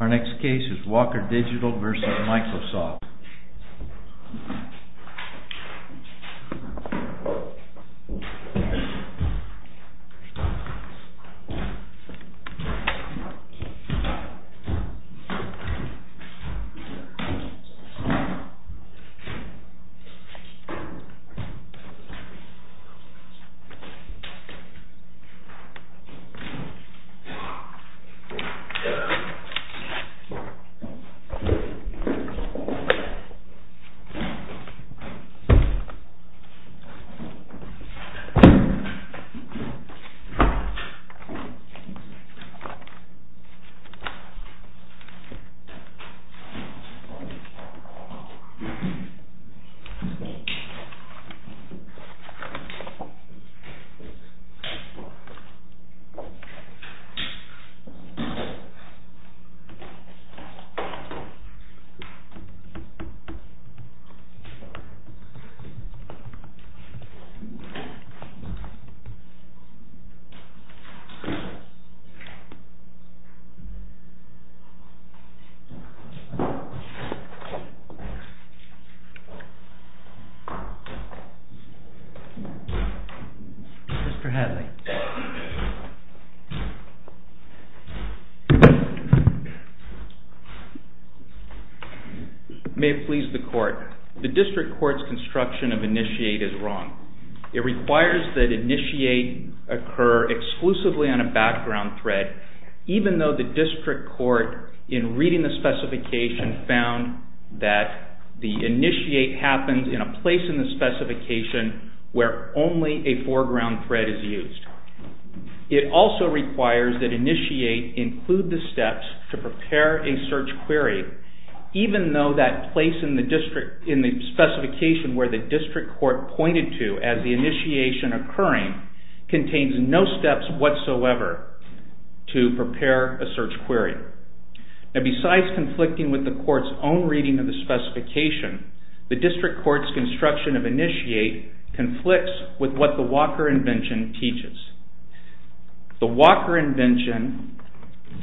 Our next case is Walker Digital v. Microsoft. This is a Microsoft Office Word document. This is for Hadley. May it please the Court. The District Court's construction of initiate is wrong. It requires that initiate occur exclusively on a background thread, even though the District Court, in reading the specification, found that the initiate happens in a place in the specification where only a foreground thread is used. It also requires that initiate include the steps to prepare a search query, even though that place in the specification where the District Court pointed to as the initiation occurring contains no steps whatsoever to prepare a search query. Besides conflicting with the Court's own reading of the specification, the District Court's construction of initiate conflicts with what the Walker invention teaches. The Walker invention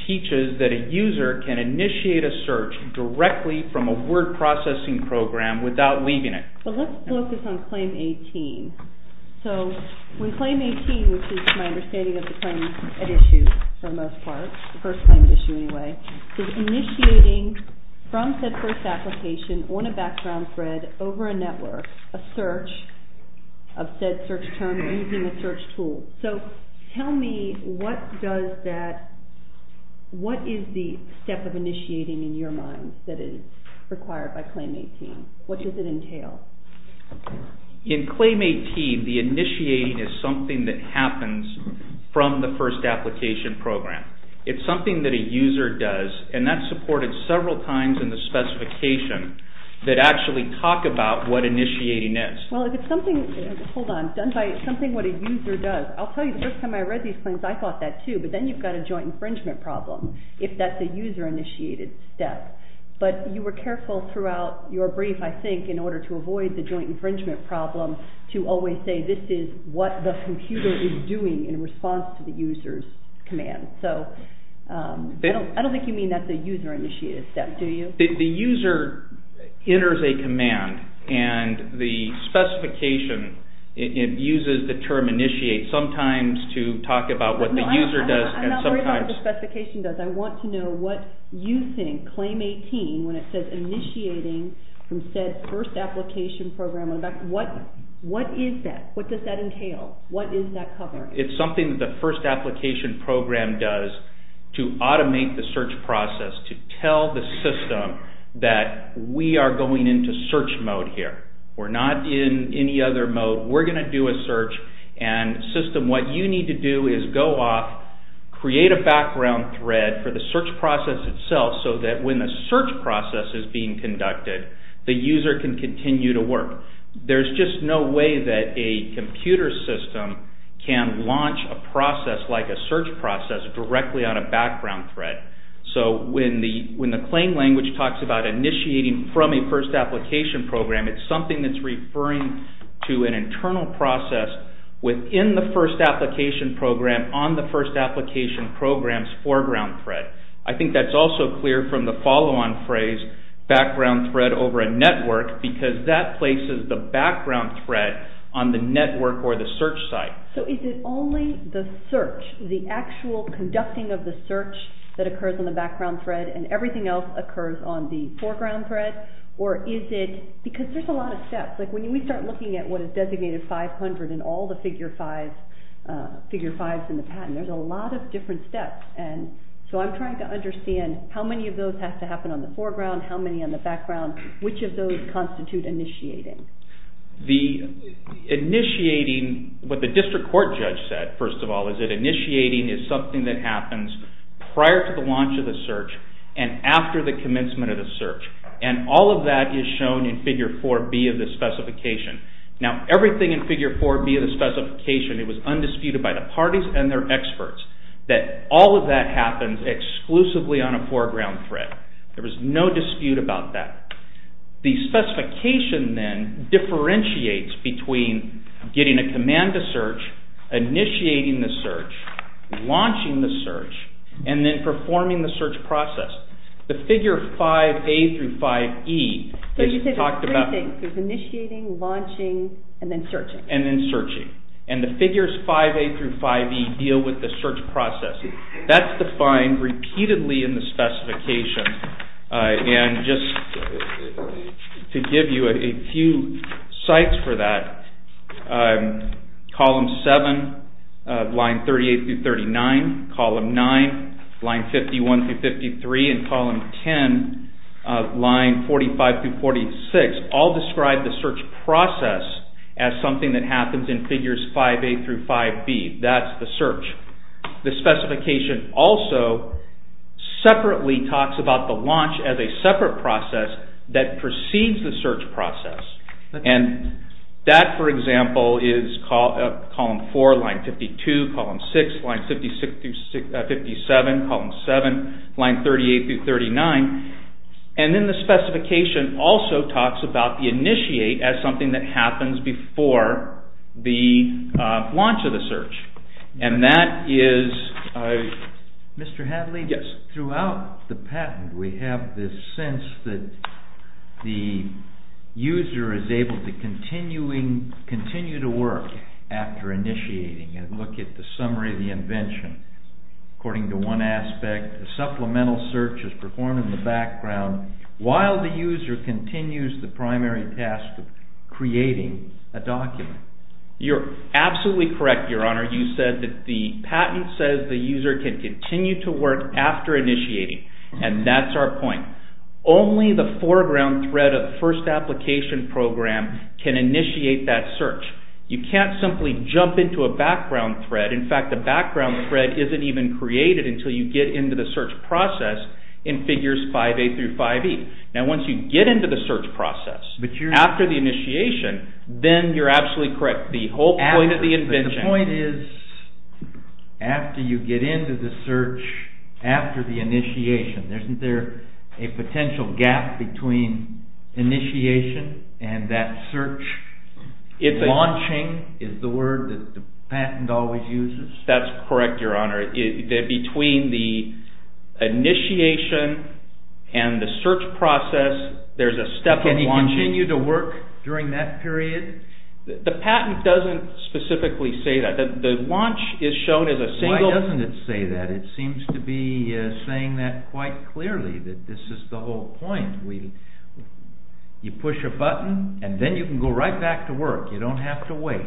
teaches that a user can initiate a search directly from a word processing program without leaving it. Let's focus on Claim 18. When Claim 18, which is my understanding of the claim at issue for the most part, the first claim at issue anyway, says initiating from said first application on a background thread over a network, a search of said search term using a search tool. So tell me what does that, what is the step of initiating in your mind that is required by Claim 18? What does it entail? In Claim 18, the initiating is something that happens from the first application program. It's something that a user does, and that's supported several times in the specification that actually talk about what initiating is. Well, if it's something, hold on, done by something what a user does, I'll tell you the first time I read these claims I thought that too, but then you've got a joint infringement problem if that's a user initiated step. But you were careful throughout your brief, I think, in order to avoid the joint infringement problem to always say this is what the computer is doing in response to the user's command. So I don't think you mean that's a user initiated step, do you? The user enters a command and the specification, it uses the term initiate sometimes to talk about what the user does. I'm not worried about what the specification does. I want to know what you think Claim 18, when it says initiating from said first application program, what is that? What does that entail? What is that cover? It's something that the first application program does to automate the search process to tell the system that we are going into search mode here. We're not in any other mode. We're going to do a search. And system, what you need to do is go off, create a background thread for the search process itself so that when the search process is being conducted, the user can continue to work. There's just no way that a computer system can launch a process like a search process directly on a background thread. So when the claim language talks about initiating from a first application program, it's something that's referring to an internal process within the first application program on the first application program's foreground thread. I think that's also clear from the follow-on phrase, background thread over a network, because that places the background thread on the network or the search site. So is it only the search, the actual conducting of the search that occurs on the background thread and everything else occurs on the foreground thread? Or is it, because there's a lot of steps. Like when we start looking at what is designated 500 in all the figure fives in the patent, there's a lot of different steps. And so I'm trying to understand how many of those have to happen on the foreground, how many on the background. Which of those constitute initiating? The initiating, what the district court judge said, first of all, is that initiating is something that happens prior to the launch of the search and after the commencement of the search. And all of that is shown in figure 4B of the specification. Now everything in figure 4B of the specification, it was undisputed by the parties and their experts that all of that happens exclusively on a foreground thread. There was no dispute about that. The specification then differentiates between getting a command to search, initiating the search, launching the search, and then performing the search process. The figure 5A through 5E is talked about... So you say there's three things. There's initiating, launching, and then searching. And then searching. And the figures 5A through 5E deal with the search process. That's defined repeatedly in the specification. And just to give you a few sites for that, column 7 of line 38 through 39, column 9, line 51 through 53, and column 10 of line 45 through 46 all describe the search process as something that happens in figures 5A through 5B. That's the search. The specification also separately talks about the launch as a separate process that precedes the search process. And that, for example, is column 4, line 52, column 6, line 57, column 7, line 38 through 39. And then the specification also talks about the initiate as something that happens before the launch of the search. And that is... Mr. Hadley? Yes. Throughout the patent, we have this sense that the user is able to continue to work after initiating and look at the summary of the invention. According to one aspect, a supplemental search is performed in the background while the user continues the primary task of creating a document. You're absolutely correct, Your Honor. You said that the patent says the user can continue to work after initiating. And that's our point. Only the foreground thread of the first application program can initiate that search. You can't simply jump into a background thread. In fact, the background thread isn't even created until you get into the search process in figures 5A through 5E. Now, once you get into the search process, after the initiation, then you're absolutely correct. The whole point of the invention... But the point is, after you get into the search, after the initiation, isn't there a potential gap between initiation and that search launching, is the word that the patent always uses? That's correct, Your Honor. Between the initiation and the search process, there's a step of launching... Can you continue to work during that period? The patent doesn't specifically say that. The launch is shown as a single... Why doesn't it say that? It seems to be saying that quite clearly, that this is the whole point. You push a button, and then you can go right back to work. You don't have to wait.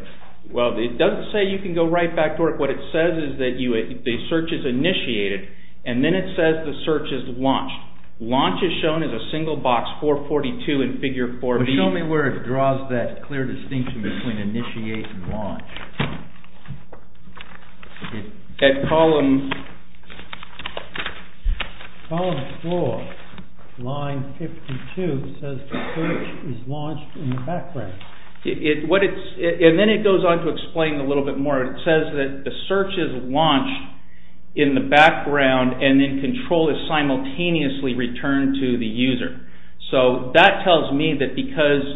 Well, it doesn't say you can go right back to work. What it says is that the search is initiated, and then it says the search is launched. Launch is shown as a single box, 442 in Figure 4B. But show me where it draws that clear distinction between initiate and launch. At column... Column 4, line 52, says the search is launched in the background. And then it goes on to explain a little bit more. It says that the search is launched in the background, and then control is simultaneously returned to the user. So that tells me that because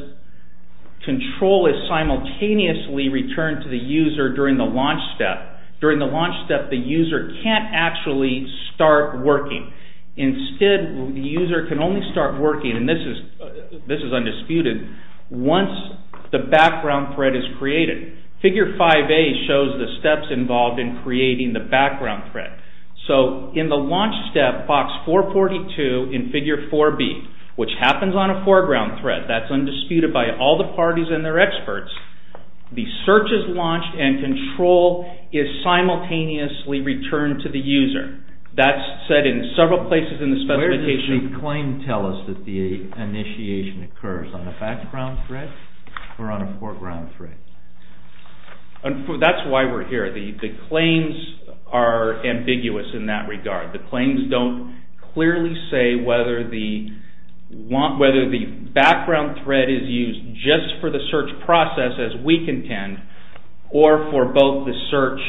control is simultaneously returned to the user during the launch step. During the launch step, the user can't actually start working. Instead, the user can only start working, and this is undisputed, once the background thread is created. Figure 5A shows the steps involved in creating the background thread. So in the launch step, box 442 in Figure 4B, which happens on a foreground thread, that's undisputed by all the parties and their experts, the search is launched, and control is simultaneously returned to the user. That's said in several places in the specification. Where does the claim tell us that the initiation occurs? On a background thread, or on a foreground thread? That's why we're here. The claims are ambiguous in that regard. The claims don't clearly say whether the background thread is used just for the search process as we contend, or for both the search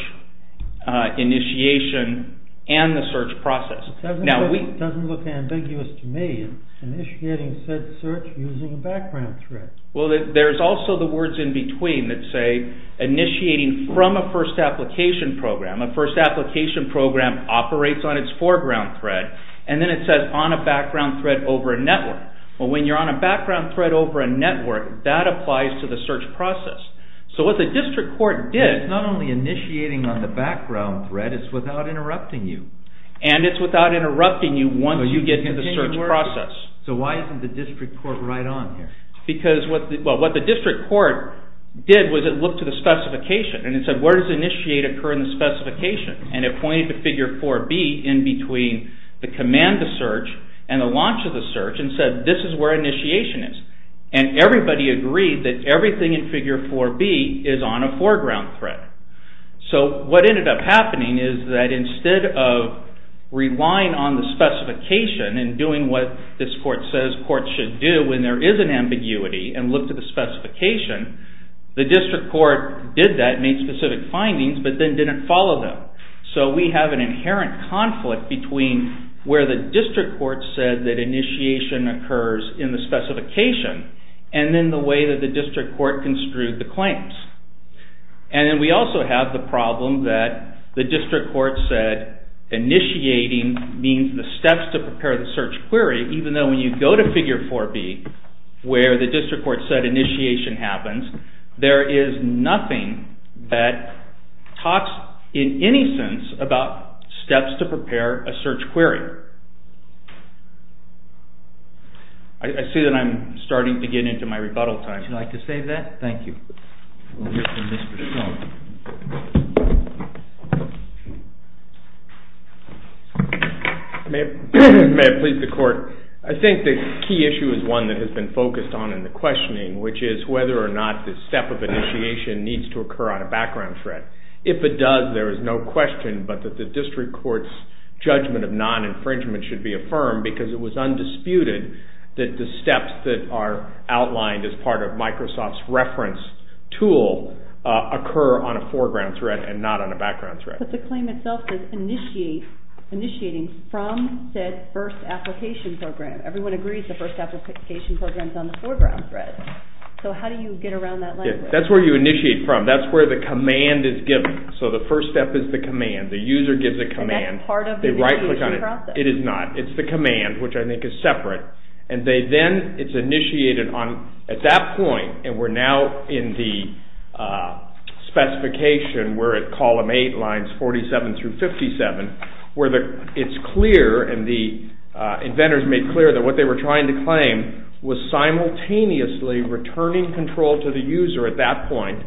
initiation and the search process. It doesn't look ambiguous to me. Initiating said search using a background thread. Well, there's also the words in between that say initiating from a first application program. A first application program operates on its foreground thread, and then it says on a background thread over a network. Well, when you're on a background thread over a network, that applies to the search process. So what the district court did... It's not only initiating on the background thread, it's without interrupting you. And it's without interrupting you once you get to the search process. So why isn't the district court right on here? Because what the district court did was it looked at the specification, and it said, where does initiate occur in the specification? And it pointed to figure 4B in between the command to search and the launch of the search, and said, this is where initiation is. And everybody agreed that everything in figure 4B is on a foreground thread. So what ended up happening is that instead of relying on the specification and doing what this court says courts should do when there is an ambiguity and look to the specification, the district court did that, made specific findings, but then didn't follow them. So we have an inherent conflict between where the district court said that initiation occurs in the specification, and then the way that the district court construed the claims. And then we also have the problem that the district court said initiating means the steps to prepare the search query, even though when you go to figure 4B where the district court said initiation happens, there is nothing that talks in any sense about steps to prepare a search query. I see that I'm starting to get into my rebuttal time. Would you like to save that? Thank you. We'll hear from Mr. Schultz. May it please the court. I think the key issue is one that has been focused on in the questioning, which is whether or not the step of initiation needs to occur on a background thread. If it does, there is no question but that the district court's judgment of non-infringement should be affirmed because it was undisputed that the steps that are outlined as part of Microsoft's reference tool occur on a foreground thread and not on a background thread. But the claim itself is initiating from said first application program. Everyone agrees the first application program is on the foreground thread. So how do you get around that language? That's where you initiate from. That's where the command is given. So the first step is the command. The user gives a command. And that's part of the initiation process. It is not. It's the command, which I think is separate. And then it's initiated at that point. And we're now in the specification where at column 8, lines 47 through 57, where it's clear and the inventors made clear that what they were trying to claim was simultaneously returning control to the user at that point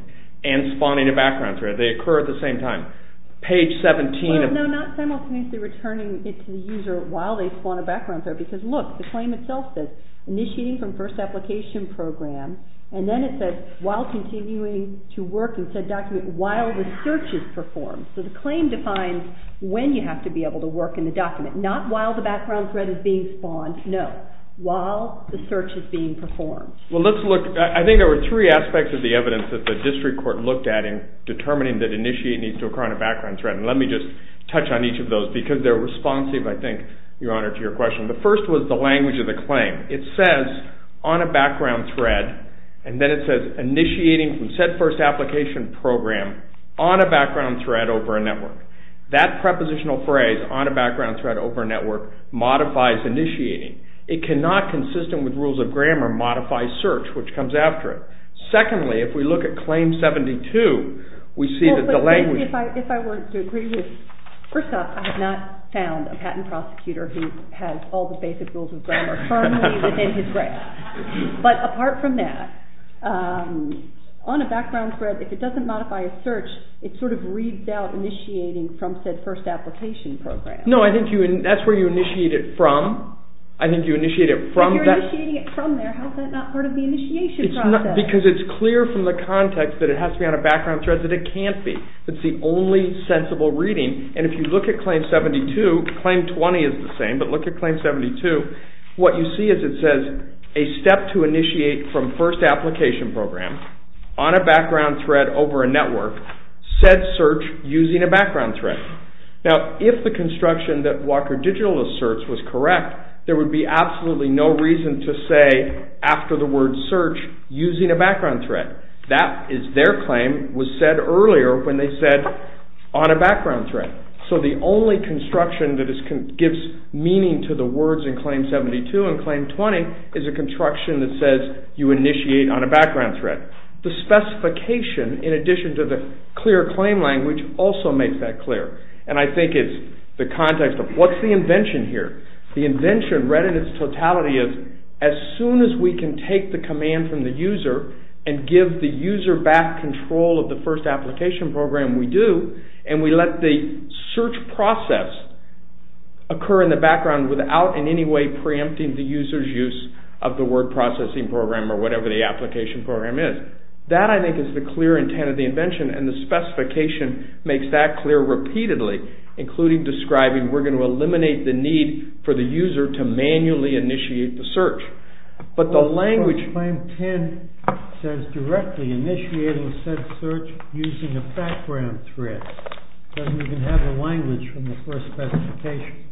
and spawning a background thread. They occur at the same time. Page 17... No, not simultaneously returning it to the user while they spawn a background thread. Because look, the claim itself says initiating from first application program. And then it says while continuing to work in said document while the search is performed. So the claim defines when you have to be able to work in the document. Not while the background thread is being spawned. No, while the search is being performed. Well, let's look... I think there were 3 aspects of the evidence that the district court looked at in determining that initiate needs to occur on a background thread. And let me just touch on each of those because they're responsive, I think, Your Honor, to your question. The first was the language of the claim. It says on a background thread and then it says initiating from said first application program on a background thread over a network. That prepositional phrase, on a background thread over a network, modifies initiating. It cannot, consistent with rules of grammar, modify search, which comes after it. Secondly, if we look at Claim 72, we see that the language... First off, I have not found a patent prosecutor who has all the basic rules of grammar firmly within his grasp. But apart from that, on a background thread, if it doesn't modify a search, it sort of reads out initiating from said first application program. No, I think that's where you initiate it from. If you're initiating it from there, how is that not part of the initiation process? Because it's clear from the context that it has to be on a background thread because it can't be. It's the only sensible reading. And if you look at Claim 72, Claim 20 is the same, but look at Claim 72, what you see is it says a step to initiate from first application program on a background thread over a network said search using a background thread. Now, if the construction that Walker Digital asserts was correct, there would be absolutely no reason to say after the word search using a background thread. Their claim was said earlier when they said on a background thread. So the only construction that gives meaning to the words in Claim 72 and Claim 20 is a construction that says you initiate on a background thread. The specification, in addition to the clear claim language, also makes that clear. And I think it's the context of what's the invention here? The invention read in its totality is as soon as we can take the command from the user and give the user back control of the first application program we do, and we let the search process occur in the background without in any way preempting the user's use of the word processing program or whatever the application program is. That, I think, is the clear intent of the invention, and the specification makes that clear repeatedly, including describing we're going to eliminate the need for the user to manually initiate the search. But the language... Claim 10 says directly initiating said search using a background thread. It doesn't even have the language from the first specification.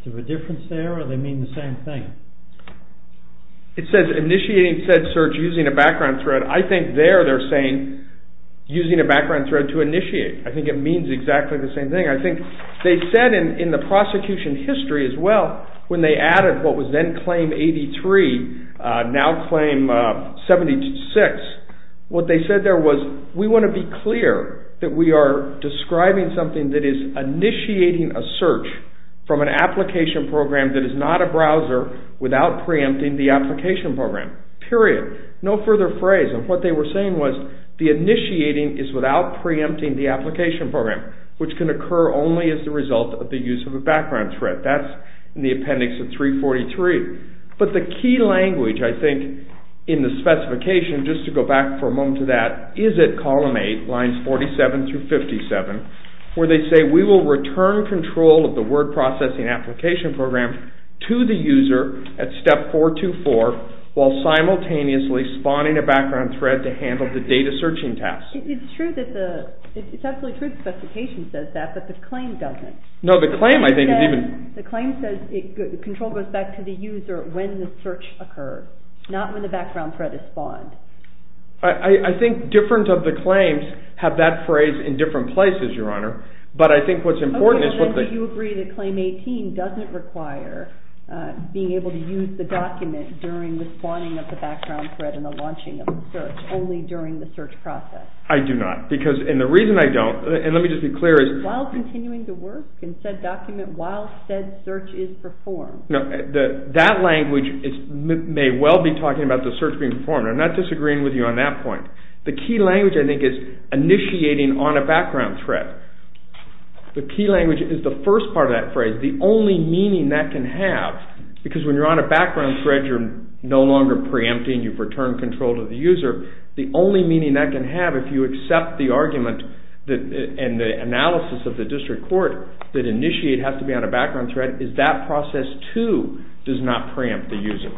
Is there a difference there, or do they mean the same thing? It says initiating said search using a background thread. I think there they're saying using a background thread to initiate. I think it means exactly the same thing. I think they said in the prosecution history as well, when they added what was then Claim 83, now Claim 76, what they said there was we want to be clear that we are describing something that is initiating a search from an application program that is not a browser without preempting the application program, period. No further phrase, and what they were saying was the initiating is without preempting the application program, which can occur only as the result of the use of a background thread. That's in the appendix of 343. But the key language, I think, in the specification, just to go back for a moment to that, is at Column 8, Lines 47-57, where they say we will return control of the word processing application program to the user at Step 424 while simultaneously spawning a background thread to handle the data searching task. It's true that the specification says that, but the claim doesn't. The claim says control goes back to the user when the search occurs, not when the background thread is spawned. I think different of the claims have that phrase in different places, Your Honor, but I think what's important is that you agree that Claim 18 doesn't require being able to use the document during the spawning of the background thread and the launching of the search, only during the search process. I do not. And the reason I don't, and let me just be clear, is... While continuing to work in said document while said search is performed. That language may well be talking about the search being performed. I'm not disagreeing with you on that point. The key language, I think, is initiating on a background thread. The key language is the first part of that phrase, the only meaning that can have, because when you're on a background thread, you're no longer preempting, you've returned control to the user. The only meaning that can have if you accept the argument and the analysis of the district court that initiate has to be on a background thread is that process, too, does not preempt the user.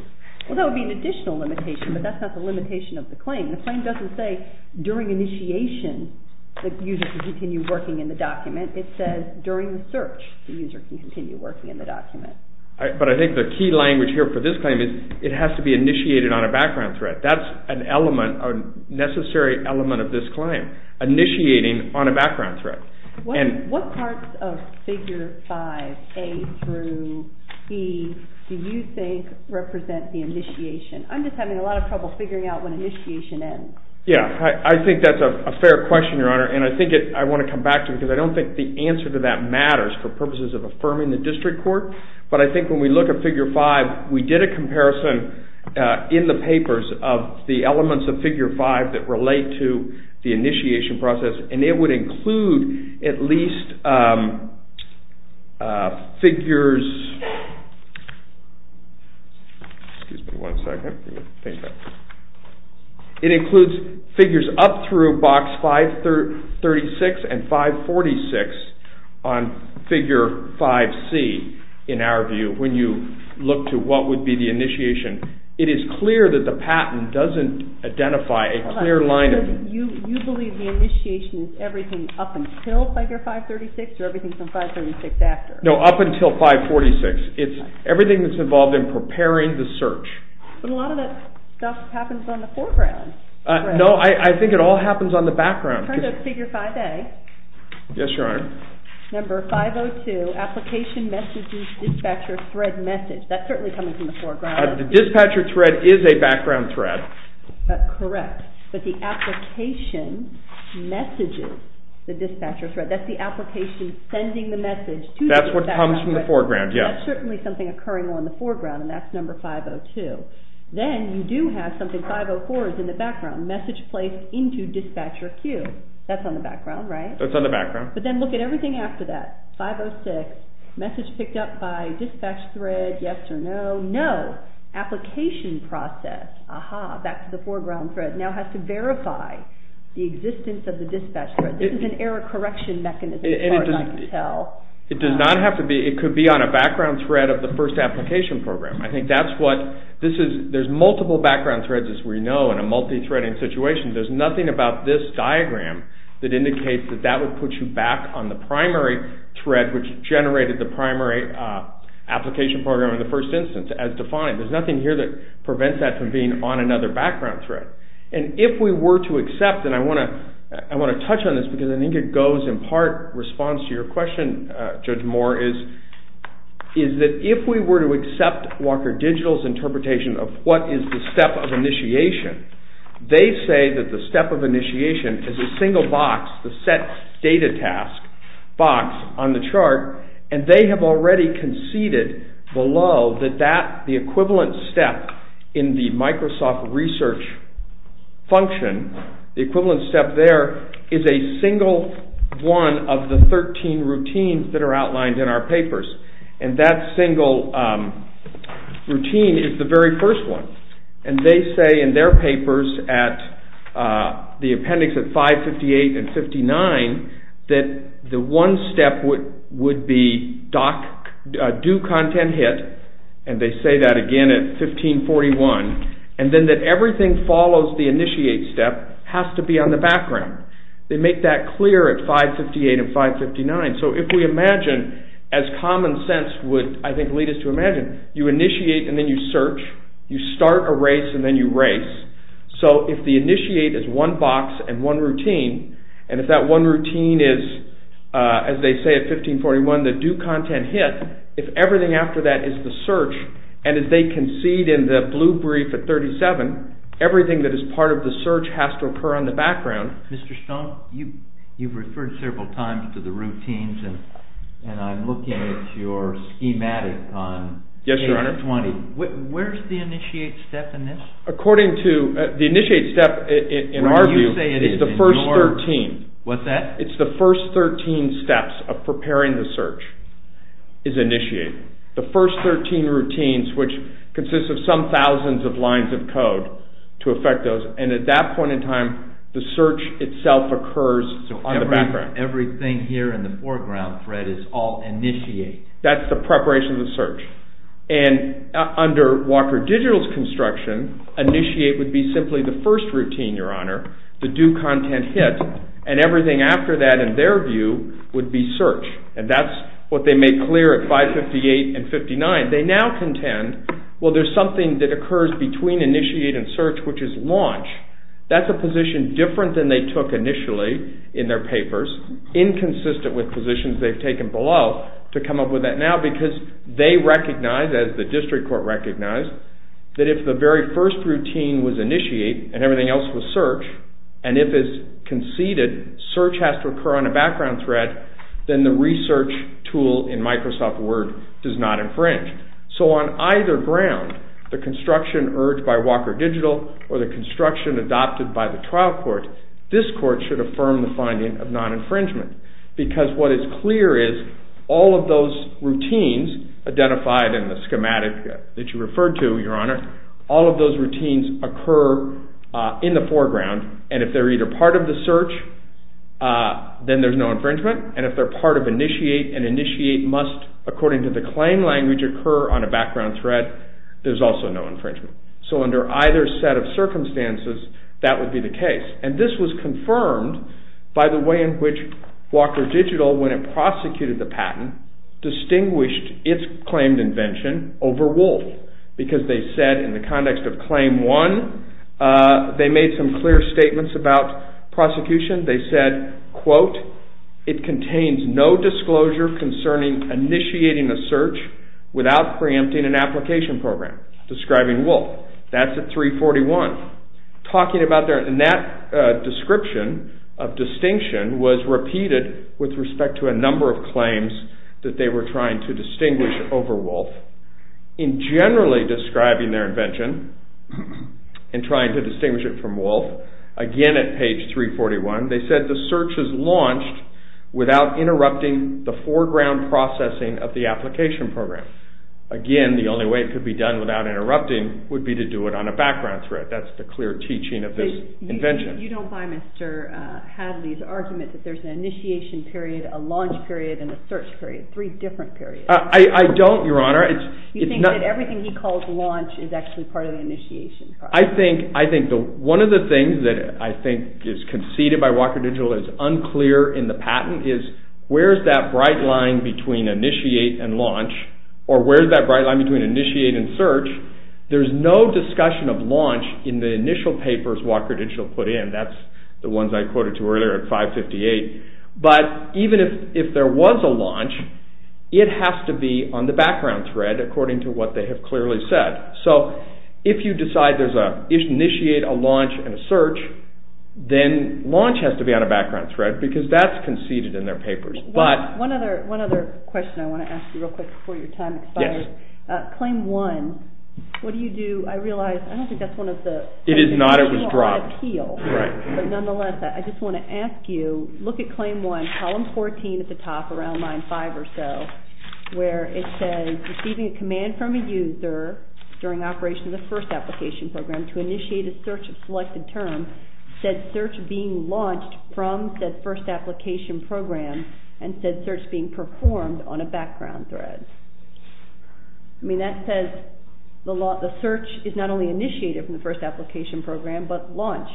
Well, that would be an additional limitation, but that's not the limitation of the claim. The claim doesn't say during initiation the user can continue working in the document. It says during the search the user can continue working in the document. But I think the key language here for this claim is it has to be initiated on a background thread. That's an element a necessary element of this claim, initiating on a background thread. What parts of Figure 5, A through E, do you think represent the initiation? I'm just having a lot of trouble figuring out when initiation ends. I think that's a fair question, Your Honor, and I think I want to come back to it because I don't think the answer to that matters for purposes of affirming the district court, but I think when we look at Figure 5, we did a comparison in the papers of the elements of Figure 5 that relate to the initiation process, and it would include at least figures it includes figures up through Box 536 and 546 on Figure 5C in our view when you look to what would be the initiation, it is clear that the patent doesn't identify a clear line of... You believe the initiation is everything up until Figure 536 or everything from 536 after? No, up until 546. It's everything that's involved in preparing the search. But a lot of that stuff happens on the foreground. No, I think it all happens on the background. Turn to Figure 5, A. Yes, Your Honor. Number 502, application messages, dispatcher thread message. That's certainly coming from the foreground. The dispatcher thread is a background thread. Correct. But the application messages, the dispatcher thread, that's the application sending the message. That's what comes from the foreground, yes. That's certainly something occurring on the foreground, and that's number 502. Then you do have something, 504 is in the background, message placed into dispatcher queue. That's on the background, right? That's on the background. But then look at everything after that, 506, message picked up by dispatch thread, yes or no. No, application process, aha, back to the foreground thread, now has to verify the existence of the dispatcher. This is an error correction mechanism as far as I can tell. It does not have to be, it could be on a background thread of the first application program. I think that's what, this is, there's multiple background threads as we know in a multi-threading situation. There's nothing about this diagram that indicates that that would put you back on the primary thread which generated the primary application program in the first instance as defined. There's nothing here that prevents that from being on another background thread. And if we were to accept, and I want to touch on this because I think it goes in part response to your question, Judge Moore, is that if we were to accept Walker Digital's interpretation of what is the step of initiation, they say that the step of initiation is a single box, the set data task box on the chart, and they have already conceded below that that, the equivalent step in the Microsoft Research function, the equivalent step there is a single one of the 13 routines that are outlined in our papers. And that single routine is the very first one. And they say in their papers at the appendix at 558 and 59 that the one step would be do content hit, and they say that again at 1541, and then that everything follows the initiate step has to be on the background. They make that clear at 558 and 559. So if we imagine as common sense would I think lead us to imagine, you initiate and then you search, you start a new race. So if the initiate is one box and one routine, and if that one routine is as they say at 1541 the do content hit, if everything after that is the search, and if they concede in the blue brief at 37, everything that is part of the search has to occur on the background. Mr. Stone, you've referred several times to the routines and I'm looking at your schematic on Yes, your honor. Where is the initiate step in this? According to the initiate step in our view is the first 13. What's that? It's the first 13 steps of preparing the search is initiate. The first 13 routines which consists of some thousands of lines of code to affect those, and at that point in time the search itself occurs on the background. Everything here in the foreground thread is all initiate. That's the preparation of the search, and under Walker Digital's construction, initiate would be simply the first routine, your honor, the do content hit, and everything after that in their view would be search, and that's what they made clear at 558 and 59. They now contend, well there's something that occurs between initiate and search which is launch. That's a position different than they took initially in their papers, inconsistent with positions they've taken below to come up with that now because they recognize, as the district court recognized, that if the very first routine was initiate and everything else was search, and if it's conceded, search has to occur on a background thread, then the research tool in Microsoft Word does not infringe. So on either ground, the construction urged by Walker Digital or the construction adopted by the trial court, this court should affirm the finding of non-infringement because what is clear is all of those routines identified in the schematic that you referred to, your honor, all of those routines occur in the foreground, and if they're either part of the search, then there's no infringement, and if they're part of initiate, and initiate must according to the claim language occur on a background thread, there's also no infringement. So under either set of circumstances, that would be the case, and this was confirmed by the way in which Walker Digital, when it prosecuted the patent, distinguished its claimed invention over Wolf, because they said in the context of Claim 1, they made some clear statements about prosecution. They said, quote, it contains no disclosure concerning initiating a search without preempting an application program, describing Wolf. That's at 341. Talking about that description of distinction was repeated with respect to a number of claims that they were trying to distinguish over Wolf. In generally describing their invention, and trying to distinguish it from Wolf, again at page 341, they said the search is launched without interrupting the foreground processing of the application program. Again, the only way it could be done without interrupting would be to do it on a background thread. That's the clear teaching of this invention. You don't buy Mr. Hadley's argument that there's an initiation period, a launch period, and a search period. Three different periods. I don't, Your Honor. You think that everything he calls launch is actually part of the initiation. I think one of the things that I think is conceded by Walker Digital that's unclear in the patent is, where's that bright line between initiate and launch, or where's that bright line between initiate and search? There's no discussion of launch in the initial papers Walker Digital put in. That's the ones I quoted to earlier at 558. Even if there was a launch, it has to be on the background thread according to what they have clearly said. If you decide there's an initiate, a launch, and a search, then launch has to be on a background thread because that's conceded in their papers. One other question I want to ask you real quick before your time expires. Claim one, what do you do? I realize, I don't think that's one of the It is not. It was dropped. But nonetheless, I just want to ask you, look at claim one, column 14 at the top around line five or so, where it says, receiving a command from a user during operation of the first application program to initiate a search of selected term, said search being launched from said first application program, and said search being performed on a background thread. I mean, that says the search is not only initiated from the first application program, but launched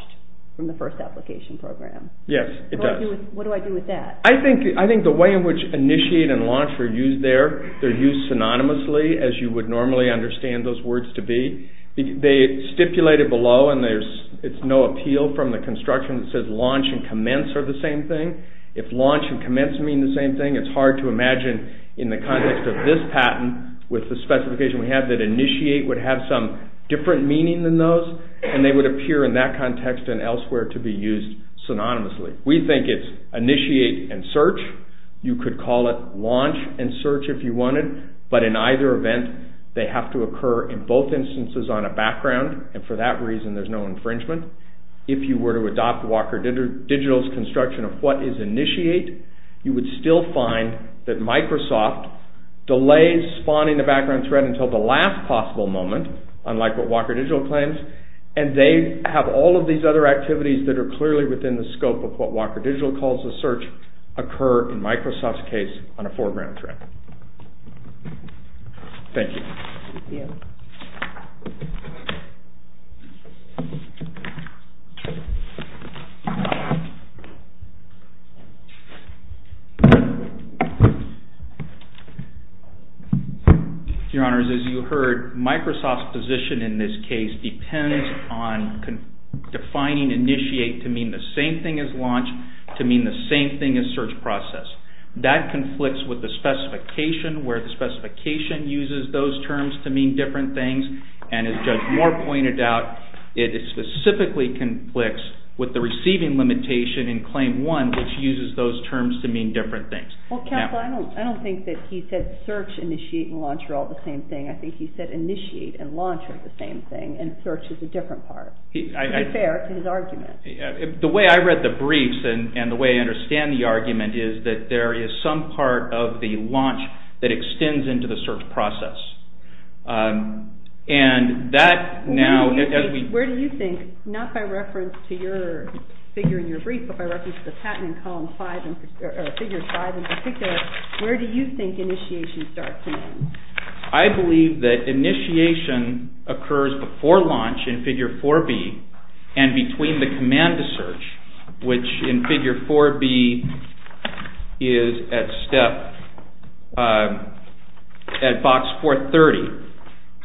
from the first application program. Yes, it does. What do I do with that? I think the way in which initiate and launch are used there, they're used synonymously as you would normally understand those words to be. They stipulate it below and it's no appeal from the construction that says launch and commence are the same thing. If launch and commence mean the same thing, it's hard to imagine in the context of this patent with the specification we have that initiate would have some different meaning than those, and they would appear in that context and elsewhere to be used synonymously. We think it's initiate and search. You could call it launch and search if you wanted, but in either event, they have to occur in both instances on a background, and for that reason, there's no infringement. If you were to adopt Walker Digital's construction of what is initiate, you would still find that Microsoft delays spawning the background thread until the last possible moment, unlike what Walker Digital claims, and they have all of these other activities that are clearly within the scope of what Walker Digital calls the search occur in Microsoft's case on a foreground thread. Thank you. Your Honor, as you heard, Microsoft's position in this case depends on defining initiate to mean the same thing as launch, to mean the same thing as search process. That conflicts with the specification where the specification uses those terms to mean different things, and as Judge Moore pointed out, it specifically conflicts with the receiving limitation in Claim 1, which uses those terms to mean different things. I don't think that he said search, initiate, and launch are all the same thing. I think he said initiate and launch are the same thing, and search is a different part. Fair to his argument. The way I read the briefs and the way I understand the argument is that there is some part of the launch that extends into the search process, and that now... Where do you think, not by reference to your figure in your brief, but by reference to the patent in Figure 5 in particular, where do you think initiation starts? I believe that initiation occurs before launch in Figure 4B and between the command to search, which in Figure 4B is at step at Box 430,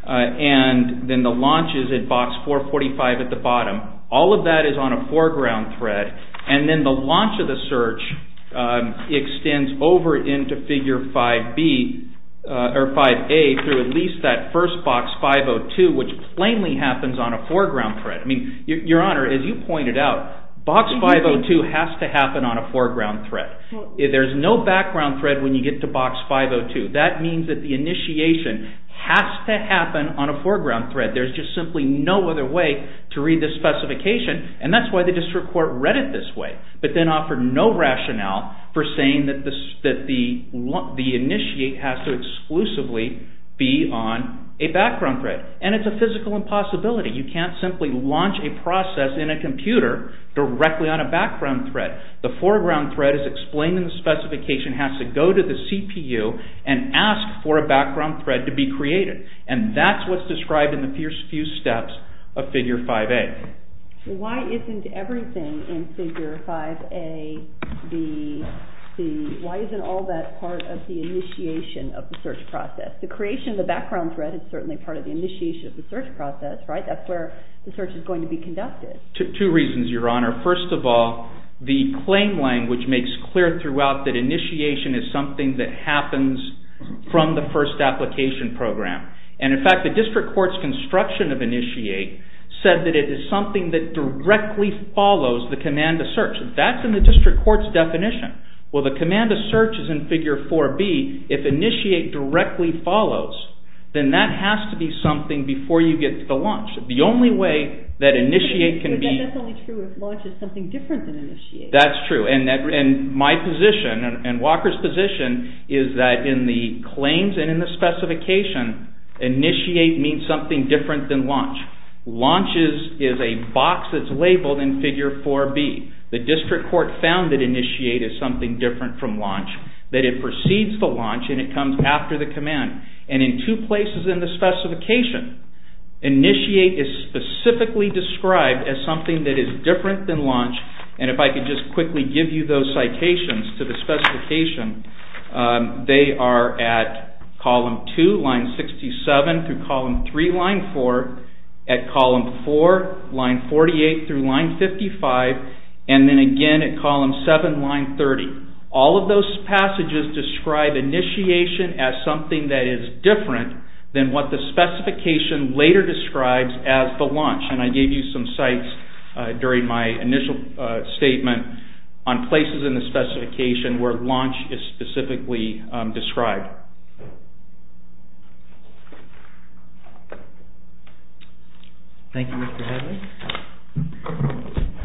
and then the launch is at Box 445 at the bottom. All of that is on a foreground thread, and then the launch of the search extends over into Figure 5A through at least that first Box 502, which plainly happens on a foreground thread. Your Honor, as you pointed out, Box 502 has to happen on a foreground thread. There is no background thread when you get to Box 502. That means that the initiation has to happen on a foreground thread. There's just simply no other way to read the specification, and that's why the District Court read it this way, but then offered no rationale for saying that the initiate has to exclusively be on a background thread. And it's a physical impossibility. You can't simply launch a process in a computer directly on a background thread. The foreground thread is explained in the specification, has to go to the CPU and ask for a background thread to be created. And that's what's described in the first few steps of Figure 5A. Why isn't everything in Figure 5A the, why isn't all that part of the initiation of the search process? The creation of the background thread is certainly part of the initiation of the search process, right? That's where the search is going to be conducted. Two reasons, Your Honor. First of all, the claim language makes clear throughout that initiation is something that happens from the first application program. And in fact, the District Court's construction of initiate said that it is something that directly follows the command of search. That's in the District Court's definition. Well, the command of search is in Figure 4B. If initiate directly follows, then that has to be something before you get to the launch. The only way that initiate can be... But that's only true if launch is something different than initiate. That's true. And my position, and Walker's position, is that in the claims and in the specification, initiate means something different than launch. Launch is a box that's labeled in Figure 4B. The District Court found that initiate is something different from launch. That it precedes the launch and it comes after the command. And in two places in the specification, initiate is specifically described as something that is different than launch. And if I could just quickly give you those citations to the specification, they are at column 2, line 67, through column 3, line 4, at column 4, line 48, through line 55, and then again at column 7, line 30. All of those passages describe initiation as something that is different than what the specification later describes as the launch. And I gave you some cites during my initial statement on places in the specification where launch is specifically described. Thank you, Mr. Headley.